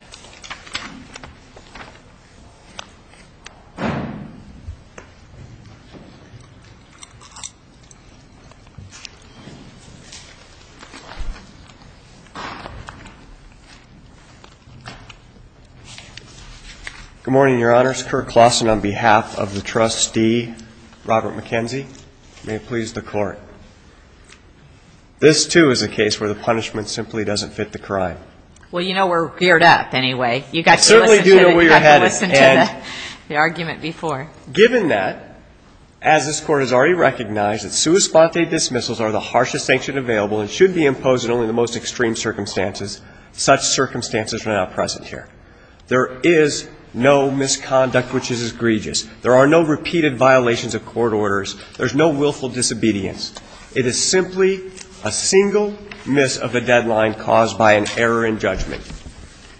Good morning, your honors. Kurt Claussen on behalf of the trustee, Robert McKenzie. May it please the court. This, too, is a case where the punishment simply doesn't fit the crime. Well, you know we're geared up, anyway. You've got to listen to the argument before. Given that, as this court has already recognized, that sua sponte dismissals are the harshest sanction available and should be imposed in only the most extreme circumstances, such circumstances are now present here. There is no misconduct which is egregious. There are no repeated violations of court orders. There's no willful disobedience. It is simply a single miss of a deadline caused by an error in judgment.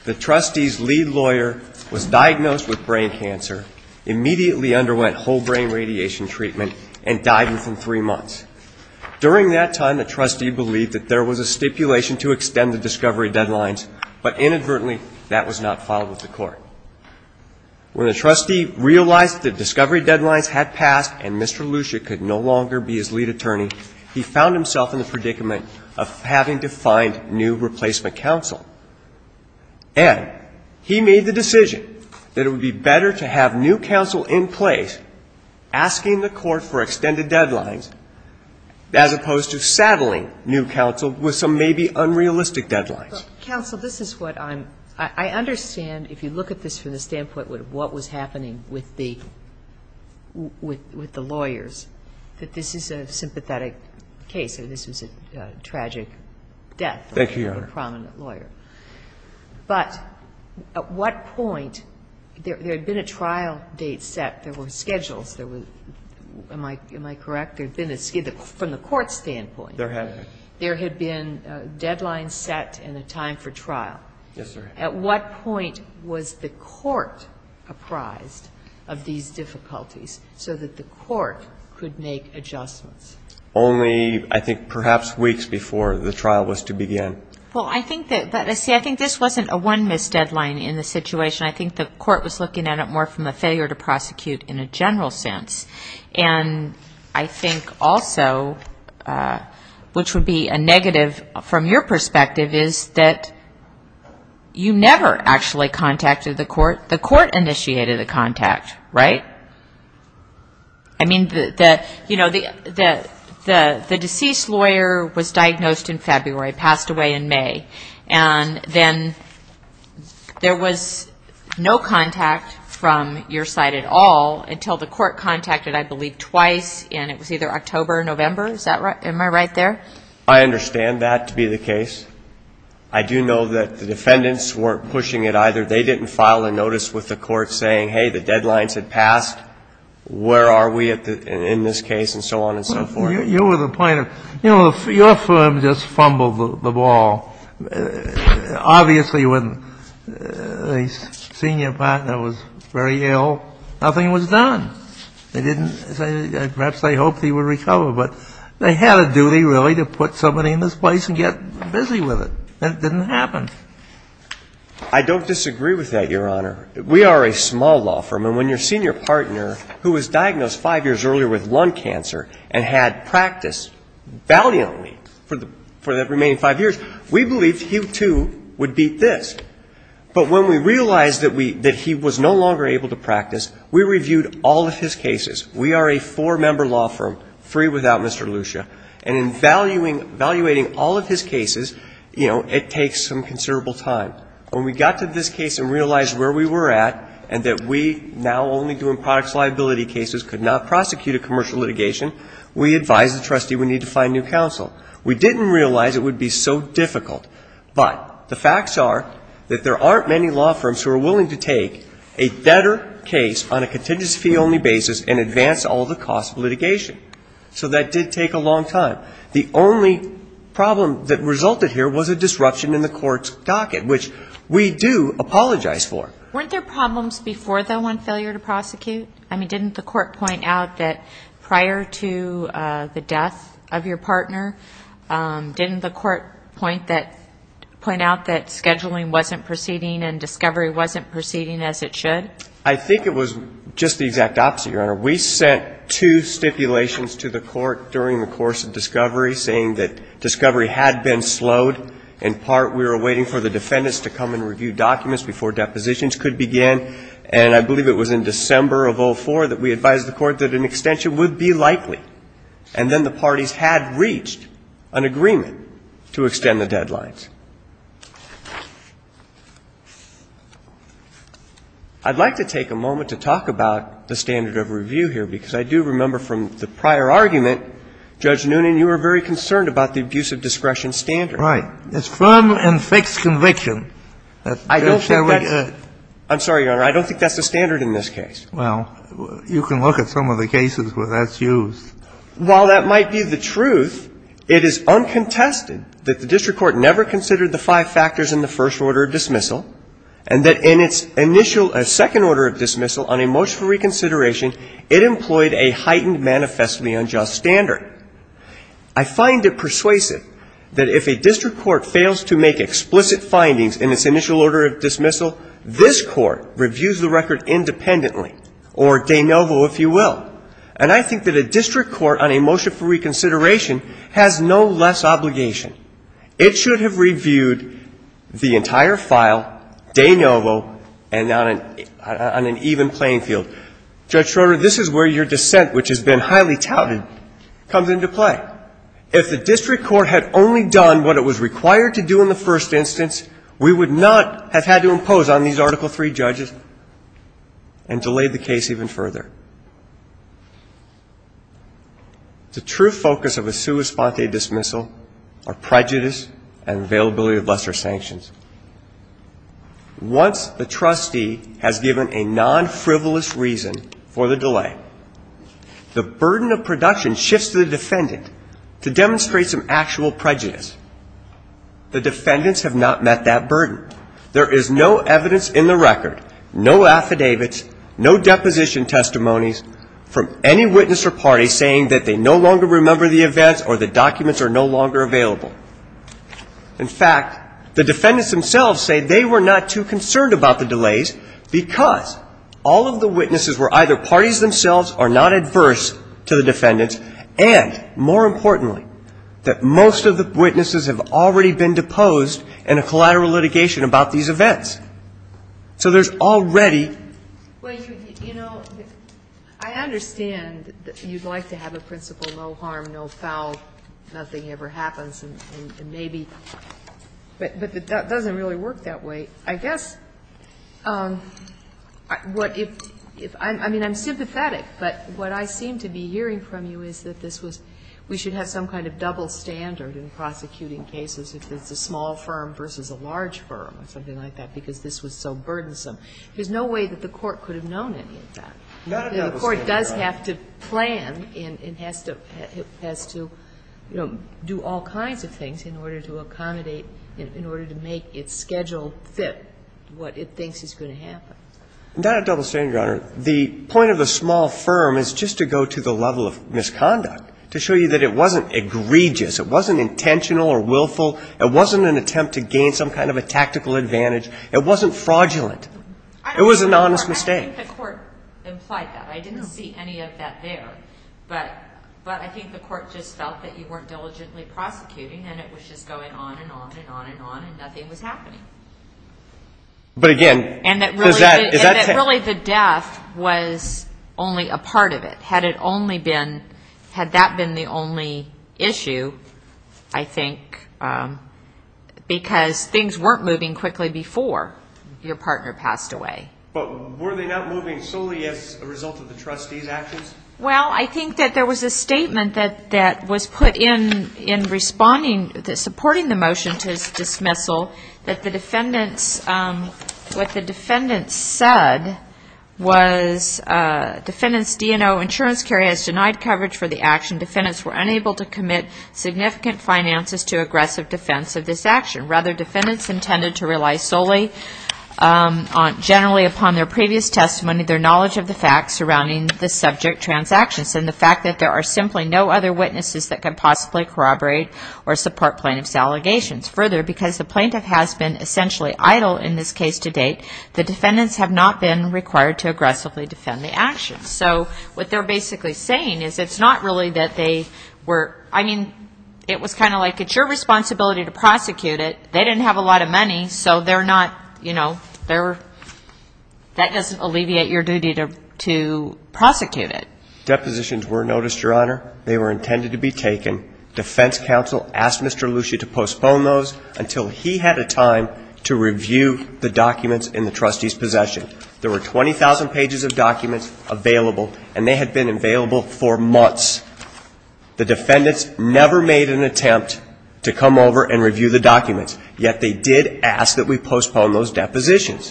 The trustee's lead lawyer was diagnosed with brain cancer, immediately underwent whole brain radiation treatment, and died within three months. During that time, the trustee believed that there was a stipulation to extend the discovery deadlines, but inadvertently, that was not followed with the court. When the trustee realized that the discovery deadlines had passed and Mr. Lucia could no longer be his lead attorney, he found himself in the predicament of having to find new replacement counsel. And he made the decision that it would be better to have new counsel in place, asking the court for extended deadlines, as opposed to saddling new counsel with some maybe unrealistic deadlines. But counsel, this is what I'm – I understand, if you look at this from the standpoint of what was happening with the lawyers, that this is a sympathetic case and this was a tragic death of a prominent lawyer. Thank you, Your Honor. But at what point – there had been a trial date set. There were schedules. There were – am I correct? There had been a – from the court standpoint. There had been. There had been deadlines set and a time for trial. Yes, sir. At what point was the court apprised of these difficulties so that the court could make adjustments? Only, I think, perhaps weeks before the trial was to begin. Well, I think that – but, see, I think this wasn't a one-miss deadline in the situation. I think the court was looking at it more from a failure to prosecute in a general sense. And I think also, which would be a negative from your perspective, is that you never actually contacted the court. The court initiated a contact, right? I mean, you know, the deceased lawyer was diagnosed in February, passed away in May. And then there was no contact from your side at all until the court contacted, I believe, twice, and it was either October or November. Is that right? Am I right there? I understand that to be the case. I do know that the defendants weren't pushing it either. They didn't file a notice with the court saying, hey, the deadlines had passed. Where are we in this case? And so on and so forth. Your firm just fumbled the ball. Obviously, when the senior partner was very ill, nothing was done. They didn't – perhaps they hoped he would recover. But they had a duty, really, to put somebody in this place and get busy with it. And it didn't happen. I don't disagree with that, Your Honor. We are a small law firm. And when your senior partner, who was diagnosed five years earlier with lung cancer and had practiced valiantly for the remaining five years, we believed he, too, would beat this. But when we realized that he was no longer able to practice, we reviewed all of his cases. We are a four-member law firm, free without Mr. Lucia. And in valuating all of his cases, you know, it takes some considerable time. But when we got to this case and realized where we were at and that we, now only doing products liability cases, could not prosecute a commercial litigation, we advised the trustee we need to find new counsel. We didn't realize it would be so difficult. But the facts are that there aren't many law firms who are willing to take a debtor case on a contingency-only basis and advance all of the costs of litigation. So that did take a long time. The only problem that resulted here was a disruption in the court's docket, which we do apologize for. Weren't there problems before, though, on failure to prosecute? I mean, didn't the court point out that prior to the death of your partner, didn't the court point out that scheduling wasn't proceeding and discovery wasn't proceeding as it should? We sent two stipulations to the court during the course of discovery saying that discovery had been slowed. In part, we were waiting for the defendants to come and review documents before depositions could begin. And I believe it was in December of 04 that we advised the court that an extension would be likely. And then the parties had reached an agreement to extend the deadlines. I'd like to take a moment to talk about the standard of review here, because I do remember from the prior argument, Judge Noonan, you were very concerned about the abuse of discretion standard. Right. It's firm and fixed conviction. I don't think that's the standard in this case. Well, you can look at some of the cases where that's used. While that might be the truth, it is uncontested that the district court never considered the five factors in the first order of dismissal and that in its initial second order of dismissal on a motion for reconsideration, it employed a heightened manifestly unjust standard. I find it persuasive that if a district court fails to make explicit findings in its initial order of dismissal, this court reviews the record independently, or de novo, if you will. And I think that a district court on a motion for reconsideration has no less obligation. It should have reviewed the entire file, de novo, and on an even playing field. Judge Schroeder, this is where your dissent, which has been highly touted, comes into play. If the district court had only done what it was required to do in the first instance, we would not have had to impose on these Article III judges and delayed the case even further. The true focus of a sua sponte dismissal are prejudice and availability of lesser sanctions. Once the trustee has given a non-frivolous reason for the delay, the burden of production shifts to the defendant to demonstrate some actual prejudice. The defendants have not met that burden. There is no evidence in the record, no affidavits, no deposition testimonies from any witness or party saying that they no longer remember the events or the documents are no longer available. In fact, the defendants themselves say they were not too concerned about the delays because all of the witnesses were either parties themselves or not adverse to the defendants, and, more importantly, that most of the witnesses have already been deposed in a collateral litigation about these events. So there's already. Well, you know, I understand that you'd like to have a principle, no harm, no foul, nothing ever happens, and maybe, but that doesn't really work that way. I guess what if, I mean, I'm sympathetic, but what I seem to be hearing from you is that this was, we should have some kind of double standard in prosecuting cases if it's a small firm versus a large firm or something like that because this was so burdensome. There's no way that the Court could have known any of that. Not a double standard. The Court does have to plan and has to, you know, do all kinds of things in order to accommodate, in order to make its schedule fit what it thinks is going to happen. Not a double standard, Your Honor. The point of a small firm is just to go to the level of misconduct, to show you that it wasn't egregious, it wasn't intentional or willful, it wasn't an attempt to gain some kind of a tactical advantage, it wasn't fraudulent. It was an honest mistake. I don't think the Court implied that. I didn't see any of that there. But I think the Court just felt that you weren't diligently prosecuting and it was just going on and on and on and on and nothing was happening. But again, does that... And that really the death was only a part of it. Had it only been, had that been the only issue, I think, because things weren't moving quickly before your partner passed away. But were they not moving solely as a result of the trustee's actions? Well, I think that there was a statement that was put in, in responding, supporting the motion to dismissal, that the defendants, what the defendants said was, defendants D&O Insurance Care has denied coverage for the action. Defendants were unable to commit significant finances to aggressive defense of this action. Rather, defendants intended to rely solely generally upon their previous testimony, their knowledge of the facts surrounding the subject transactions, and the fact that there are simply no other witnesses that could possibly corroborate or support plaintiff's allegations. Further, because the plaintiff has been essentially idle in this case to date, the defendants have not been required to aggressively defend the action. So what they're basically saying is it's not really that they were, I mean, it was kind of like, it's your responsibility to prosecute it. They didn't have a lot of money, so they're not, you know, that doesn't alleviate your duty to prosecute it. Depositions were noticed, Your Honor. They were intended to be taken. Defense counsel asked Mr. Lucia to postpone those until he had a time to review the documents in the trustee's possession. There were 20,000 pages of documents available, and they had been available for months. The defendants never made an attempt to come over and review the documents, yet they did ask that we postpone those depositions.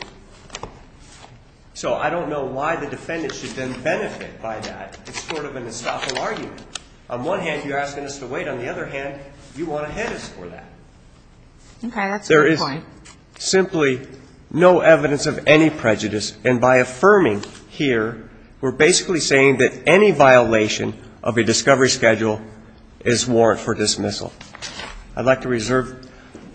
So I don't know why the defendants should then benefit by that. It's sort of an estoppel argument. On one hand, you're asking us to wait. On the other hand, you want to hit us for that. Okay, that's a good point. There is simply no evidence of any prejudice, and by affirming here, we're basically saying that any violation of a discovery schedule is warranted for dismissal. I'd like to reserve.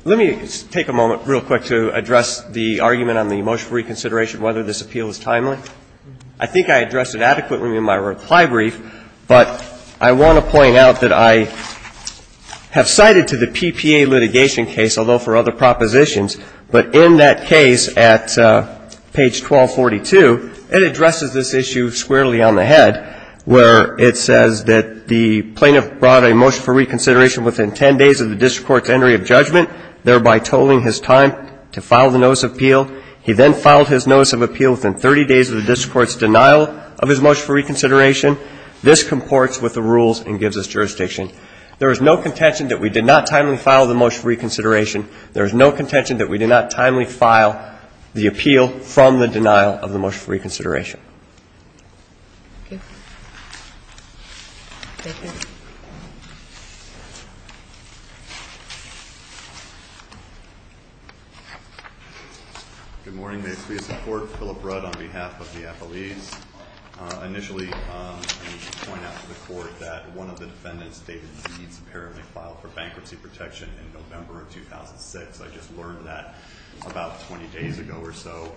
Let me take a moment real quick to address the argument on the motion for reconsideration, whether this appeal is timely. I think I addressed it adequately in my reply brief, but I want to point out that I have cited to the PPA litigation case, although for other propositions, but in that case at page 1242, it addresses this issue squarely on the head, where it says that the plaintiff brought a motion for reconsideration within ten days of the district court's entry of judgment, thereby tolling his time to file the notice of appeal. He then filed his notice of appeal within 30 days of the district court's denial of his motion for reconsideration. This comports with the rules and gives us jurisdiction. There is no contention that we did not timely file the motion for reconsideration. There is no contention that we did not timely file the appeal from the denial of the motion for reconsideration. Thank you. Thank you. Good morning. May it please the Court. Philip Rudd on behalf of the affiliates. Initially, I need to point out to the Court that one of the defendants, David Deeds, apparently filed for bankruptcy protection in November of 2006. I just learned that about 20 days ago or so.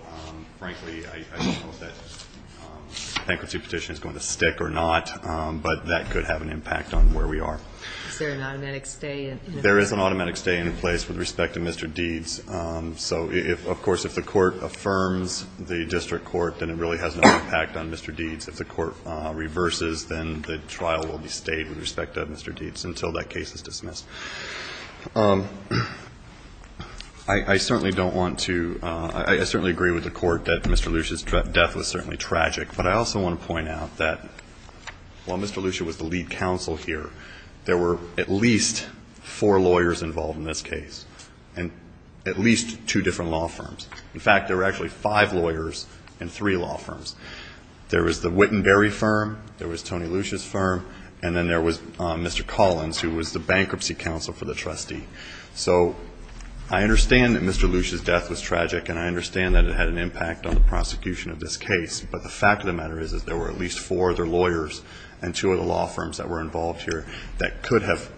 Frankly, I don't know if that bankruptcy petition is going to stick or not, but that could have an impact on where we are. Is there an automatic stay in place? There is an automatic stay in place with respect to Mr. Deeds. So, of course, if the Court affirms the district court, then it really has no impact on Mr. Deeds. If the Court reverses, then the trial will be stayed with respect to Mr. Deeds until that case is dismissed. I certainly don't want to – I certainly agree with the Court that Mr. Lucia's death was certainly tragic, but I also want to point out that while Mr. Lucia was the lead counsel here, there were at least four lawyers involved in this case and at least two different law firms. In fact, there were actually five lawyers and three law firms. There was the Wittenberry firm, there was Tony Lucia's firm, and then there was Mr. Collins, who was the bankruptcy counsel for the trustee. So I understand that Mr. Lucia's death was tragic, and I understand that it had an impact on the prosecution of this case, but the fact of the matter is that there were at least four other lawyers and two other law firms that were involved here that could have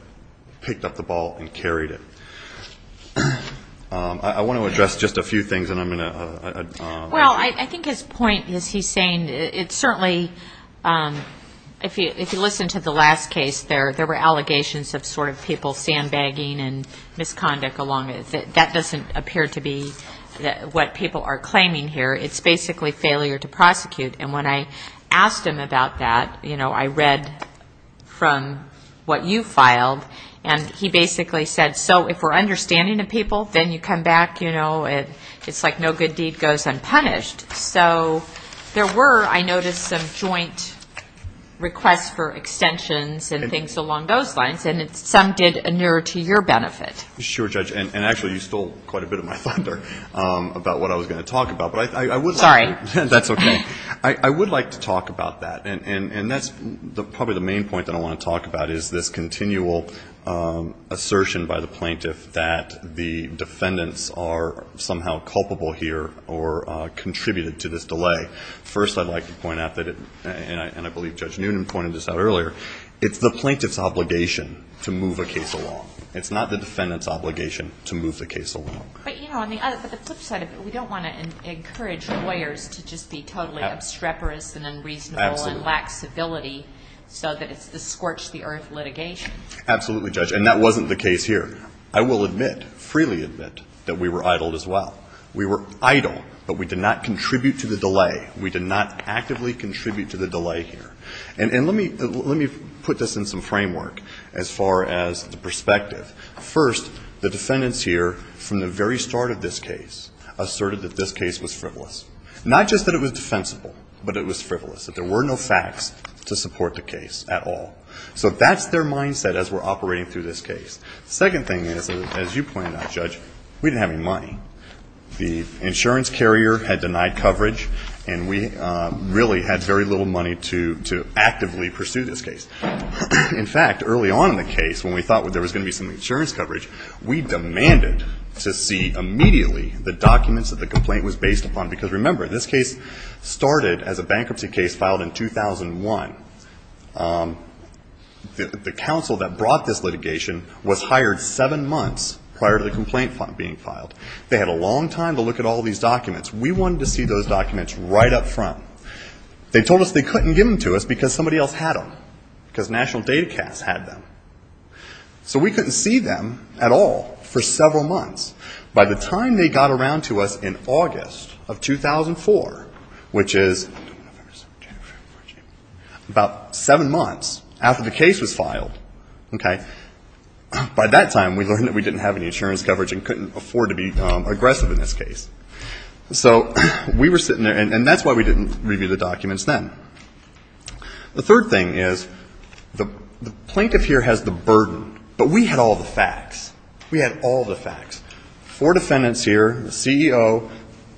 picked up the ball and carried it. I want to address just a few things, and I'm going to – Well, I think his point is he's saying it's certainly – if you listen to the last case, there were allegations of sort of people sandbagging and misconduct along it. That doesn't appear to be what people are claiming here. It's basically failure to prosecute. And when I asked him about that, you know, I read from what you filed, and he basically said, so if we're understanding of people, then you come back, you know, it's like no good deed goes unpunished. So there were, I noticed, some joint requests for extensions and things along those lines, and some did inure to your benefit. Sure, Judge, and actually you stole quite a bit of my thunder about what I was going to talk about. Sorry. That's okay. I would like to talk about that, And that's probably the main point that I want to talk about is this continual assertion by the plaintiff that the defendants are somehow culpable here or contributed to this delay. First, I'd like to point out that, and I believe Judge Noonan pointed this out earlier, it's the plaintiff's obligation to move a case along. It's not the defendant's obligation to move the case along. But, you know, on the flip side of it, we don't want to encourage lawyers to just be totally obstreperous and unreasonable and lack civility so that it's the scorch-the-earth litigation. Absolutely, Judge, and that wasn't the case here. I will admit, freely admit, that we were idled as well. We were idle, but we did not contribute to the delay. We did not actively contribute to the delay here. And let me put this in some framework as far as the perspective. First, the defendants here, from the very start of this case, asserted that this case was frivolous, not just that it was defensible, but it was frivolous, that there were no facts to support the case at all. So that's their mindset as we're operating through this case. The second thing is, as you pointed out, Judge, we didn't have any money. The insurance carrier had denied coverage, and we really had very little money to actively pursue this case. In fact, early on in the case, when we thought there was going to be some insurance coverage, we demanded to see immediately the documents that the complaint was based upon, because remember, this case started as a bankruptcy case filed in 2001. The counsel that brought this litigation was hired seven months prior to the complaint being filed. They had a long time to look at all these documents. We wanted to see those documents right up front. They told us they couldn't give them to us because somebody else had them, because National Data Cats had them. So we couldn't see them at all for several months. By the time they got around to us in August of 2004, which is about seven months after the case was filed, by that time we learned that we didn't have any insurance coverage and couldn't afford to be aggressive in this case. So we were sitting there, and that's why we didn't review the documents then. The third thing is the plaintiff here has the burden, but we had all the facts. We had all the facts. Four defendants here, the CEO,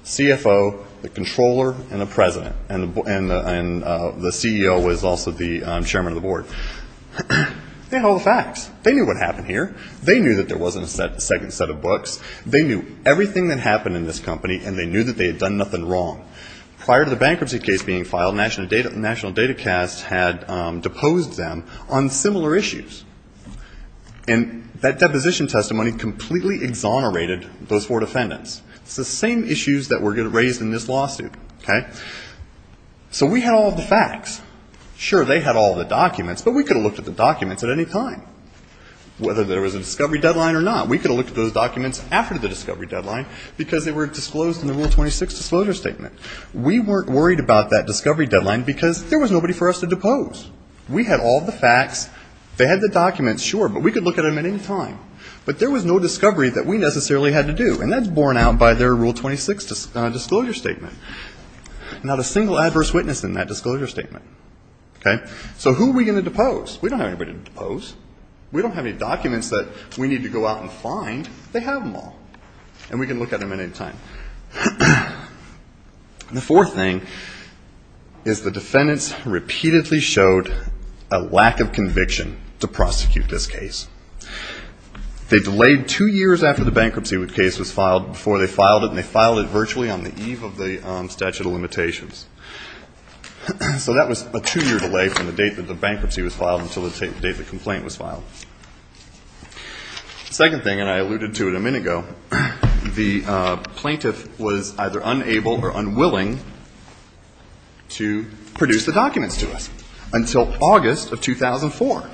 CFO, the controller, and the president. And the CEO was also the chairman of the board. They had all the facts. They knew what happened here. They knew that there wasn't a second set of books. They knew everything that happened in this company, and they knew that they had done nothing wrong. Prior to the bankruptcy case being filed, National Data Cats had deposed them on similar issues. And that deposition testimony completely exonerated those four defendants. It's the same issues that were raised in this lawsuit. So we had all the facts. Sure, they had all the documents, but we could have looked at the documents at any time, whether there was a discovery deadline or not. We could have looked at those documents after the discovery deadline because they were disclosed in the Rule 26 disclosure statement. We weren't worried about that discovery deadline because there was nobody for us to depose. We had all the facts. They had the documents, sure, but we could look at them at any time. But there was no discovery that we necessarily had to do, and that's borne out by their Rule 26 disclosure statement. Not a single adverse witness in that disclosure statement. Okay? So who are we going to depose? We don't have anybody to depose. We don't have any documents that we need to go out and find. They have them all, and we can look at them at any time. The fourth thing is the defendants repeatedly showed a lack of conviction to prosecute this case. They delayed two years after the bankruptcy case was filed before they filed it, and they filed it virtually on the eve of the statute of limitations. So that was a two-year delay from the date that the bankruptcy was filed until the date the complaint was filed. The second thing, and I alluded to it a minute ago, the plaintiff was either unable or unwilling to produce the documents to us until August of 2004,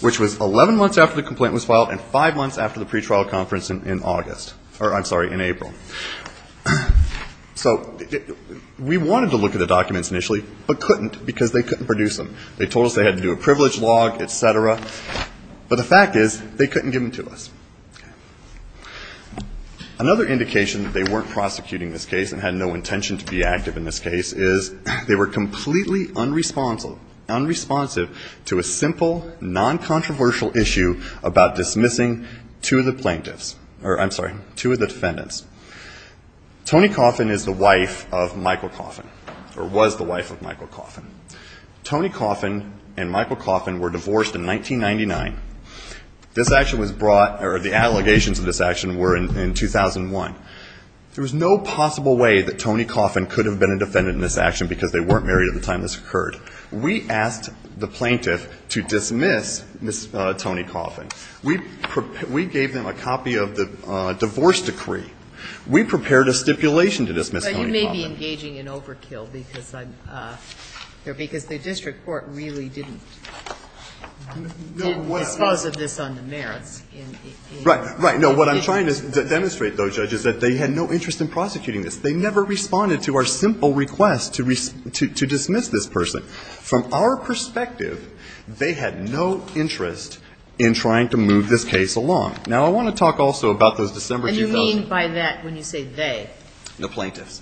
which was 11 months after the complaint was filed and five months after the pretrial conference in August or, I'm sorry, in April. So we wanted to look at the documents initially but couldn't because they couldn't produce them. They told us they had to do a privilege log, et cetera. But the fact is they couldn't give them to us. Another indication that they weren't prosecuting this case and had no intention to be active in this case is they were completely unresponsive to a simple, non-controversial issue about dismissing two of the plaintiffs or, I'm sorry, two of the defendants. Tony Coffin is the wife of Michael Coffin or was the wife of Michael Coffin. Tony Coffin and Michael Coffin were divorced in 1999. This action was brought or the allegations of this action were in 2001. There was no possible way that Tony Coffin could have been a defendant in this action because they weren't married at the time this occurred. We asked the plaintiff to dismiss Tony Coffin. We gave them a copy of the divorce decree. We prepared a stipulation to dismiss Tony Coffin. But you may be engaging in overkill because the district court really didn't dispose of this on the merits. Right. Right. No, what I'm trying to demonstrate, though, Judge, is that they had no interest in prosecuting this. They never responded to our simple request to dismiss this person. From our perspective, they had no interest in trying to move this case along. Now, I want to talk also about those December 2000 ---- And you mean by that when you say they? The plaintiffs.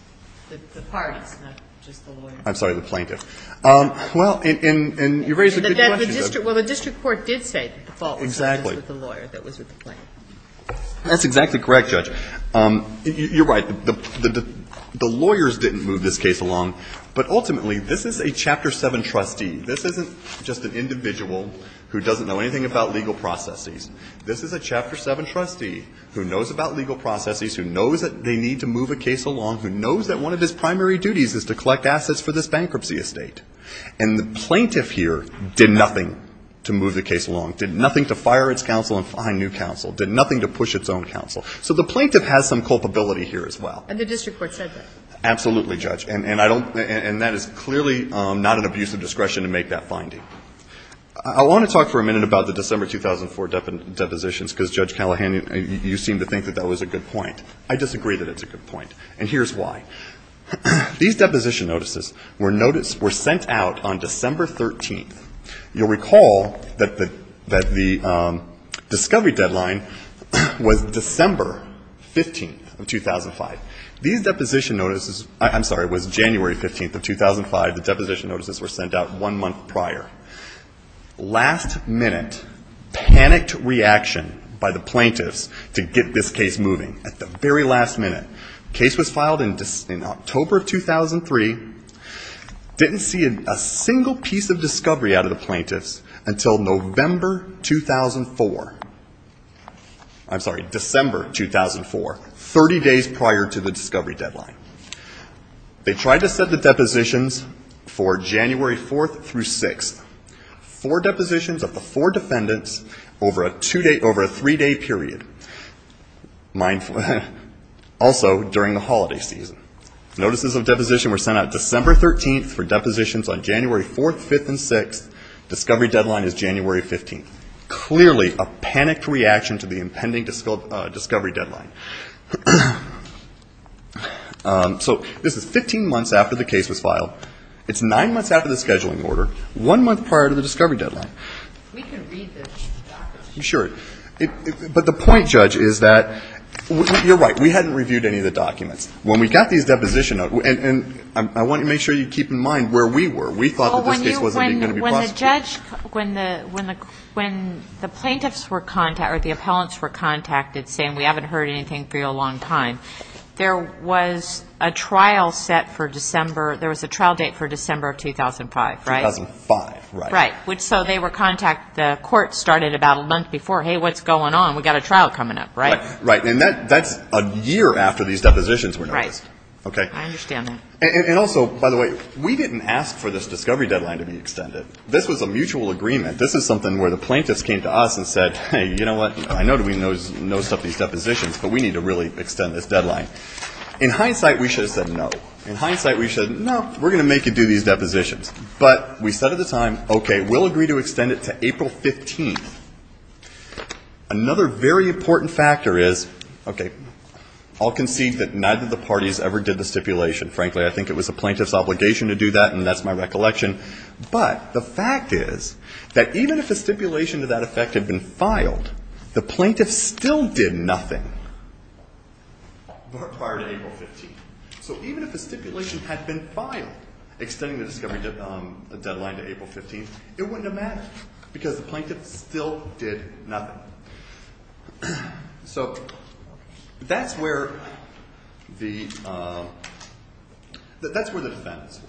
The parties, not just the lawyers. I'm sorry, the plaintiffs. Well, and you raise a good question, Judge. Well, the district court did say that the fault was with the lawyer, that it was with the plaintiffs. That's exactly correct, Judge. You're right. The lawyers didn't move this case along. But ultimately, this is a Chapter 7 trustee. This isn't just an individual who doesn't know anything about legal processes. This is a Chapter 7 trustee who knows about legal processes, who knows that they need to move a case along, who knows that one of his primary duties is to collect assets for this bankruptcy estate. And the plaintiff here did nothing to move the case along, did nothing to fire its counsel and find new counsel, did nothing to push its own counsel. So the plaintiff has some culpability here as well. And the district court said that. Absolutely, Judge. And I don't – and that is clearly not an abuse of discretion to make that finding. I want to talk for a minute about the December 2004 depositions, because, Judge Callahan, you seem to think that that was a good point. I disagree that it's a good point. And here's why. These deposition notices were sent out on December 13th. You'll recall that the discovery deadline was December 15th of 2005. These deposition notices – I'm sorry, it was January 15th of 2005. The deposition notices were sent out one month prior. Last minute, panicked reaction by the plaintiffs to get this case moving. At the very last minute. Case was filed in October of 2003. Didn't see a single piece of discovery out of the plaintiffs until November 2004. I'm sorry, December 2004. Thirty days prior to the discovery deadline. They tried to set the depositions for January 4th through 6th. Four depositions of the four defendants over a three-day period. Also during the holiday season. Notices of deposition were sent out December 13th for depositions on January 4th, 5th, and 6th. Discovery deadline is January 15th. This is clearly a panicked reaction to the impending discovery deadline. So this is 15 months after the case was filed. It's nine months after the scheduling order. One month prior to the discovery deadline. We can read this. Sure. But the point, Judge, is that you're right. We hadn't reviewed any of the documents. When we got these deposition notes – and I want to make sure you keep in mind where we were. We thought that this case wasn't going to be prosecuted. When the plaintiffs were contacted, or the appellants were contacted, saying we haven't heard anything for a long time, there was a trial set for December. There was a trial date for December of 2005, right? 2005, right. Right. So they were contacted. The court started about a month before. Hey, what's going on? We've got a trial coming up, right? Right. And that's a year after these depositions were noticed. Right. I understand that. And also, by the way, we didn't ask for this discovery deadline to be extended. This was a mutual agreement. This is something where the plaintiffs came to us and said, hey, you know what? I know we nosed up these depositions, but we need to really extend this deadline. In hindsight, we should have said no. In hindsight, we should have said, no, we're going to make you do these depositions. But we said at the time, okay, we'll agree to extend it to April 15th. Another very important factor is, okay, I'll concede that neither of the parties ever did the stipulation. And, frankly, I think it was the plaintiff's obligation to do that, and that's my recollection. But the fact is that even if a stipulation to that effect had been filed, the plaintiff still did nothing prior to April 15th. So even if a stipulation had been filed extending the discovery deadline to April 15th, it wouldn't have mattered because the plaintiff still did nothing. So that's where the defendants were.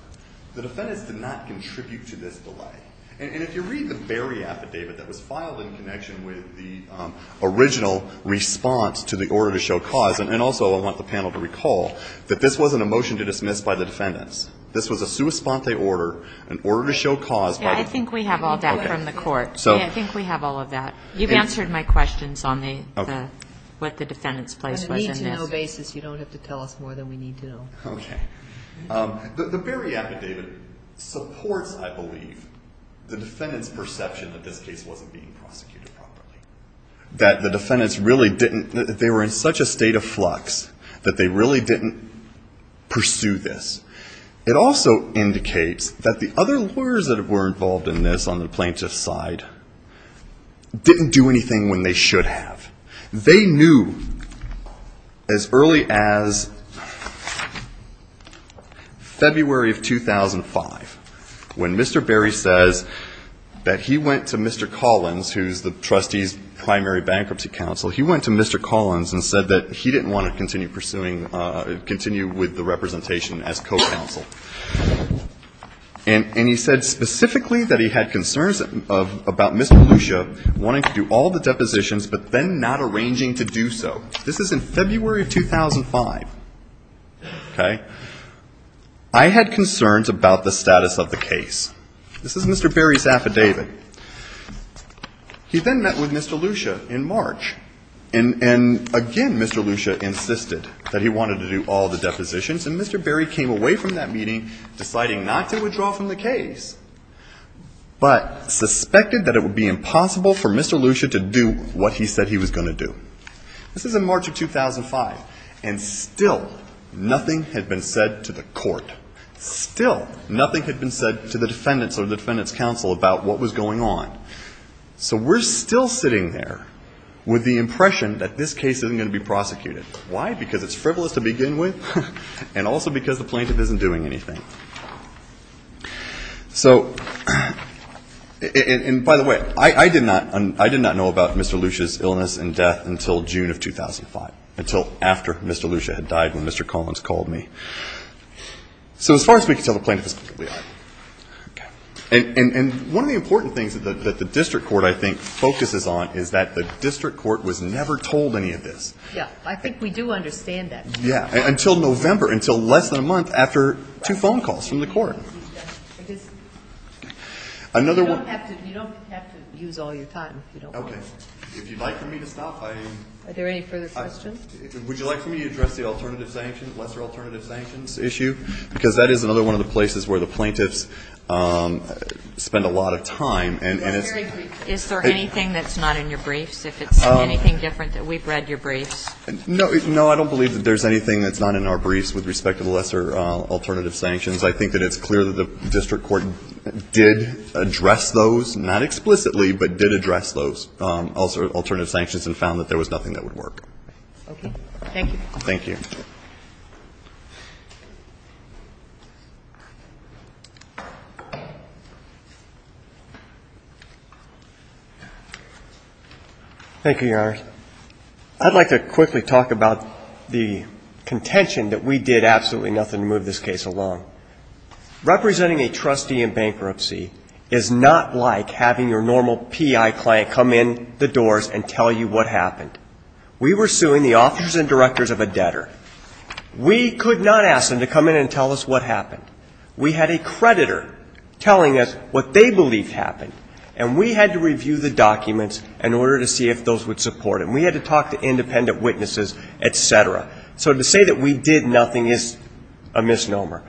The defendants did not contribute to this delay. And if you read the Berry affidavit that was filed in connection with the original response to the order to show cause, and also I want the panel to recall that this wasn't a motion to dismiss by the defendants. This was a sua sponte order, an order to show cause by the court. I think we have all that from the court. Okay. I think we have all of that. You've answered my questions on what the defendant's place was in this. On a need-to-know basis, you don't have to tell us more than we need to know. Okay. The Berry affidavit supports, I believe, the defendant's perception that this case wasn't being prosecuted properly, that the defendants really didn't they were in such a state of flux that they really didn't pursue this. It also indicates that the other lawyers that were involved in this on the plaintiff's side didn't do anything when they should have. They knew as early as February of 2005 when Mr. Berry says that he went to Mr. Collins, who's the trustee's primary bankruptcy counsel, he went to Mr. Collins and said that he didn't want to continue pursuing, continue with the representation as co-counsel. And he said specifically that he had concerns about Mr. Lucia wanting to do all the depositions but then not arranging to do so. This is in February of 2005. Okay. I had concerns about the status of the case. This is Mr. Berry's affidavit. He then met with Mr. Lucia in March. And again, Mr. Lucia insisted that he wanted to do all the depositions. And Mr. Berry came away from that meeting deciding not to withdraw from the case, but suspected that it would be impossible for Mr. Lucia to do what he said he was going to do. This is in March of 2005. And still nothing had been said to the court. Still nothing had been said to the defendants or the defendants' counsel about what was going on. So we're still sitting there with the impression that this case isn't going to be prosecuted. Why? Because it's frivolous to begin with and also because the plaintiff isn't doing anything. So, and by the way, I did not know about Mr. Lucia's illness and death until June of 2005, until after Mr. Lucia had died when Mr. Collins called me. So as far as we can tell, the plaintiff is completely honest. Okay. And one of the important things that the district court, I think, focuses on is that the district court was never told any of this. Yeah. I think we do understand that. Yeah. Until November, until less than a month after two phone calls from the court. Because you don't have to use all your time if you don't want to. Okay. If you'd like for me to stop, I am going to stop. Are there any further questions? Would you like for me to address the alternative sanctions, lesser alternative sanctions issue? Because that is another one of the places where the plaintiffs spend a lot of time. Well, I agree. Is there anything that's not in your briefs, if it's anything different that we've read your briefs? No. No, I don't believe that there's anything that's not in our briefs with respect to the lesser alternative sanctions. I think that it's clear that the district court did address those, not explicitly, but did address those lesser alternative sanctions and found that there was nothing that would work. Okay. Thank you. Thank you. Thank you, Your Honor. I'd like to quickly talk about the contention that we did absolutely nothing to move this case along. Representing a trustee in bankruptcy is not like having your normal PI client come in the doors and tell you what happened. We were suing the authors and directors of a debtor. We could not ask them to come in and tell us what happened. We had a creditor telling us what they believed happened, and we had to review the documents in order to see if those would support them. We had to talk to independent witnesses, et cetera. So to say that we did nothing is a misnomer.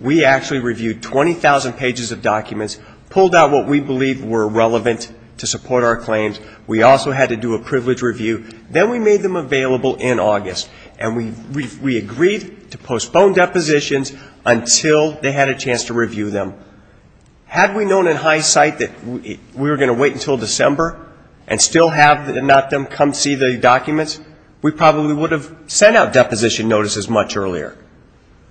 We actually reviewed 20,000 pages of documents, pulled out what we believed were relevant to support our claims. We also had to do a privilege review. Then we made them available in August, and we agreed to postpone depositions until they had a chance to review them. Had we known in hindsight that we were going to wait until December and still have them come see the documents, we probably would have sent out deposition notices much earlier.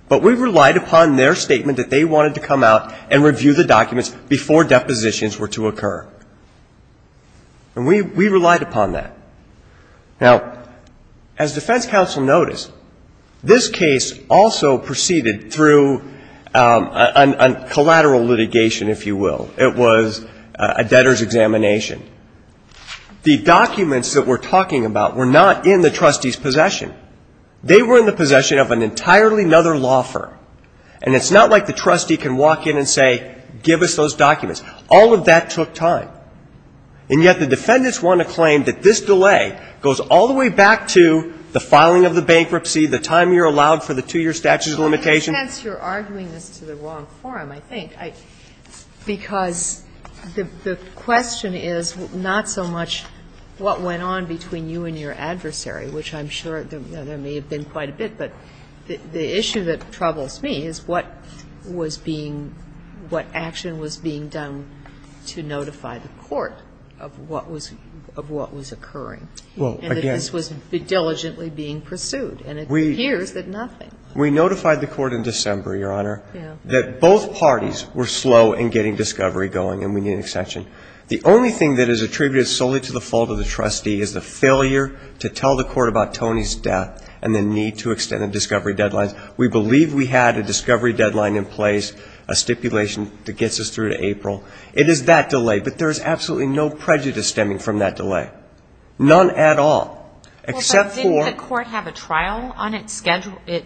But we relied upon their statement that they wanted to come out and review the documents before depositions were to occur. And we relied upon that. Now, as defense counsel noticed, this case also proceeded through a collateral litigation, if you will. It was a debtor's examination. The documents that we're talking about were not in the trustee's possession. They were in the possession of an entirely other law firm. And it's not like the trustee can walk in and say, give us those documents. All of that took time. And yet the defendants want to claim that this delay goes all the way back to the filing of the bankruptcy, the time you're allowed for the two-year statute of limitations. Sotomayor, you're arguing this to the wrong forum, I think, because the question is not so much what went on between you and your adversary, which I'm sure there may have been quite a bit. But the issue that troubles me is what was being, what action was being done to notify the court of what was occurring. And that this was diligently being pursued. And it appears that nothing. We notified the court in December, Your Honor, that both parties were slow in getting discovery going and we need an extension. The only thing that is attributed solely to the fault of the trustee is the failure to tell the court about Tony's death and the need to extend the discovery deadlines. We believe we had a discovery deadline in place, a stipulation that gets us through to April. It is that delay. But there is absolutely no prejudice stemming from that delay. None at all. Except for ‑‑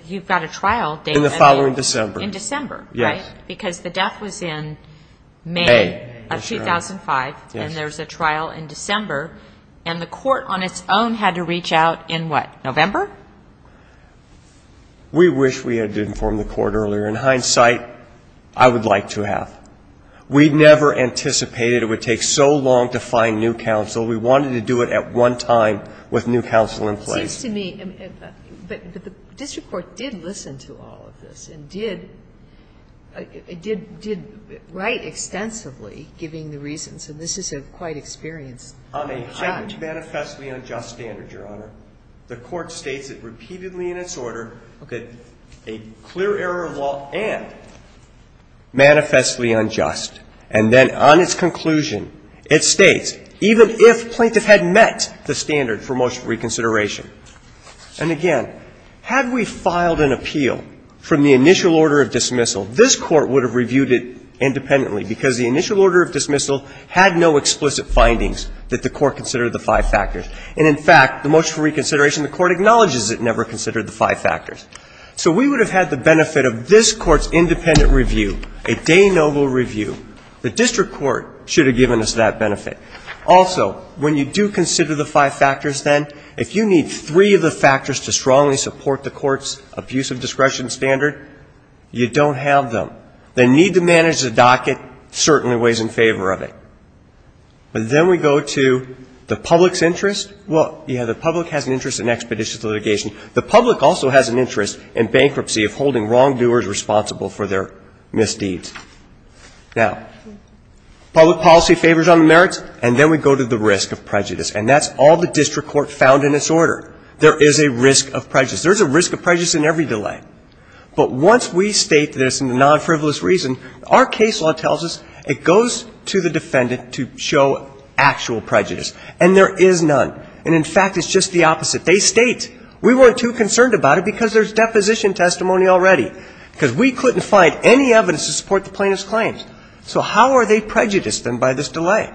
You've got a trial date. In the following December. In December, right? Yes. Because the death was in May of 2005. Yes. And there's a trial in December. And the court on its own had to reach out in what, November? We wish we had informed the court earlier. In hindsight, I would like to have. We never anticipated it would take so long to find new counsel. We wanted to do it at one time with new counsel in place. It seems to me that the district court did listen to all of this and did write extensively giving the reasons. And this is quite experienced. On a manifestly unjust standard, Your Honor, the court states it repeatedly in its order that a clear error of law and manifestly unjust. And then on its conclusion, it states, even if plaintiff had met the standard for motion for reconsideration. And, again, had we filed an appeal from the initial order of dismissal, this court would have reviewed it independently because the initial order of dismissal had no explicit findings that the court considered the five factors. And, in fact, the motion for reconsideration, the court acknowledges it never considered the five factors. So we would have had the benefit of this court's independent review, a de novo review. The district court should have given us that benefit. Also, when you do consider the five factors, then, if you need three of the factors to strongly support the court's abuse of discretion standard, you don't have them. They need to manage the docket, certainly weighs in favor of it. But then we go to the public's interest. Well, yeah, the public has an interest in expeditious litigation. The public also has an interest in bankruptcy of holding wrongdoers responsible for their misdeeds. Now, public policy favors on the merits. And then we go to the risk of prejudice. And that's all the district court found in its order. There is a risk of prejudice. There's a risk of prejudice in every delay. But once we state this in the non-frivolous reason, our case law tells us it goes to the defendant to show actual prejudice. And there is none. And, in fact, it's just the opposite. They state we weren't too concerned about it because there's deposition testimony already because we couldn't find any evidence to support the plaintiff's claims. So how are they prejudiced, then, by this delay?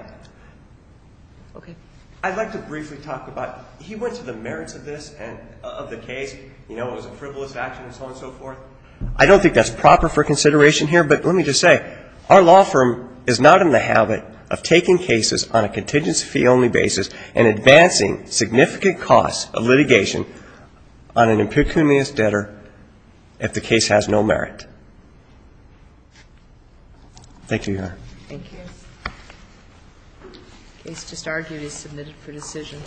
Okay. I'd like to briefly talk about he went to the merits of this and of the case. You know, it was a frivolous action and so on and so forth. I don't think that's proper for consideration here. But let me just say our law firm is not in the habit of taking cases on a contingency fee only basis and advancing significant costs of litigation on an impecunious debtor if the case has no merit. Thank you, Your Honor. Thank you. The case just argued is submitted for decision.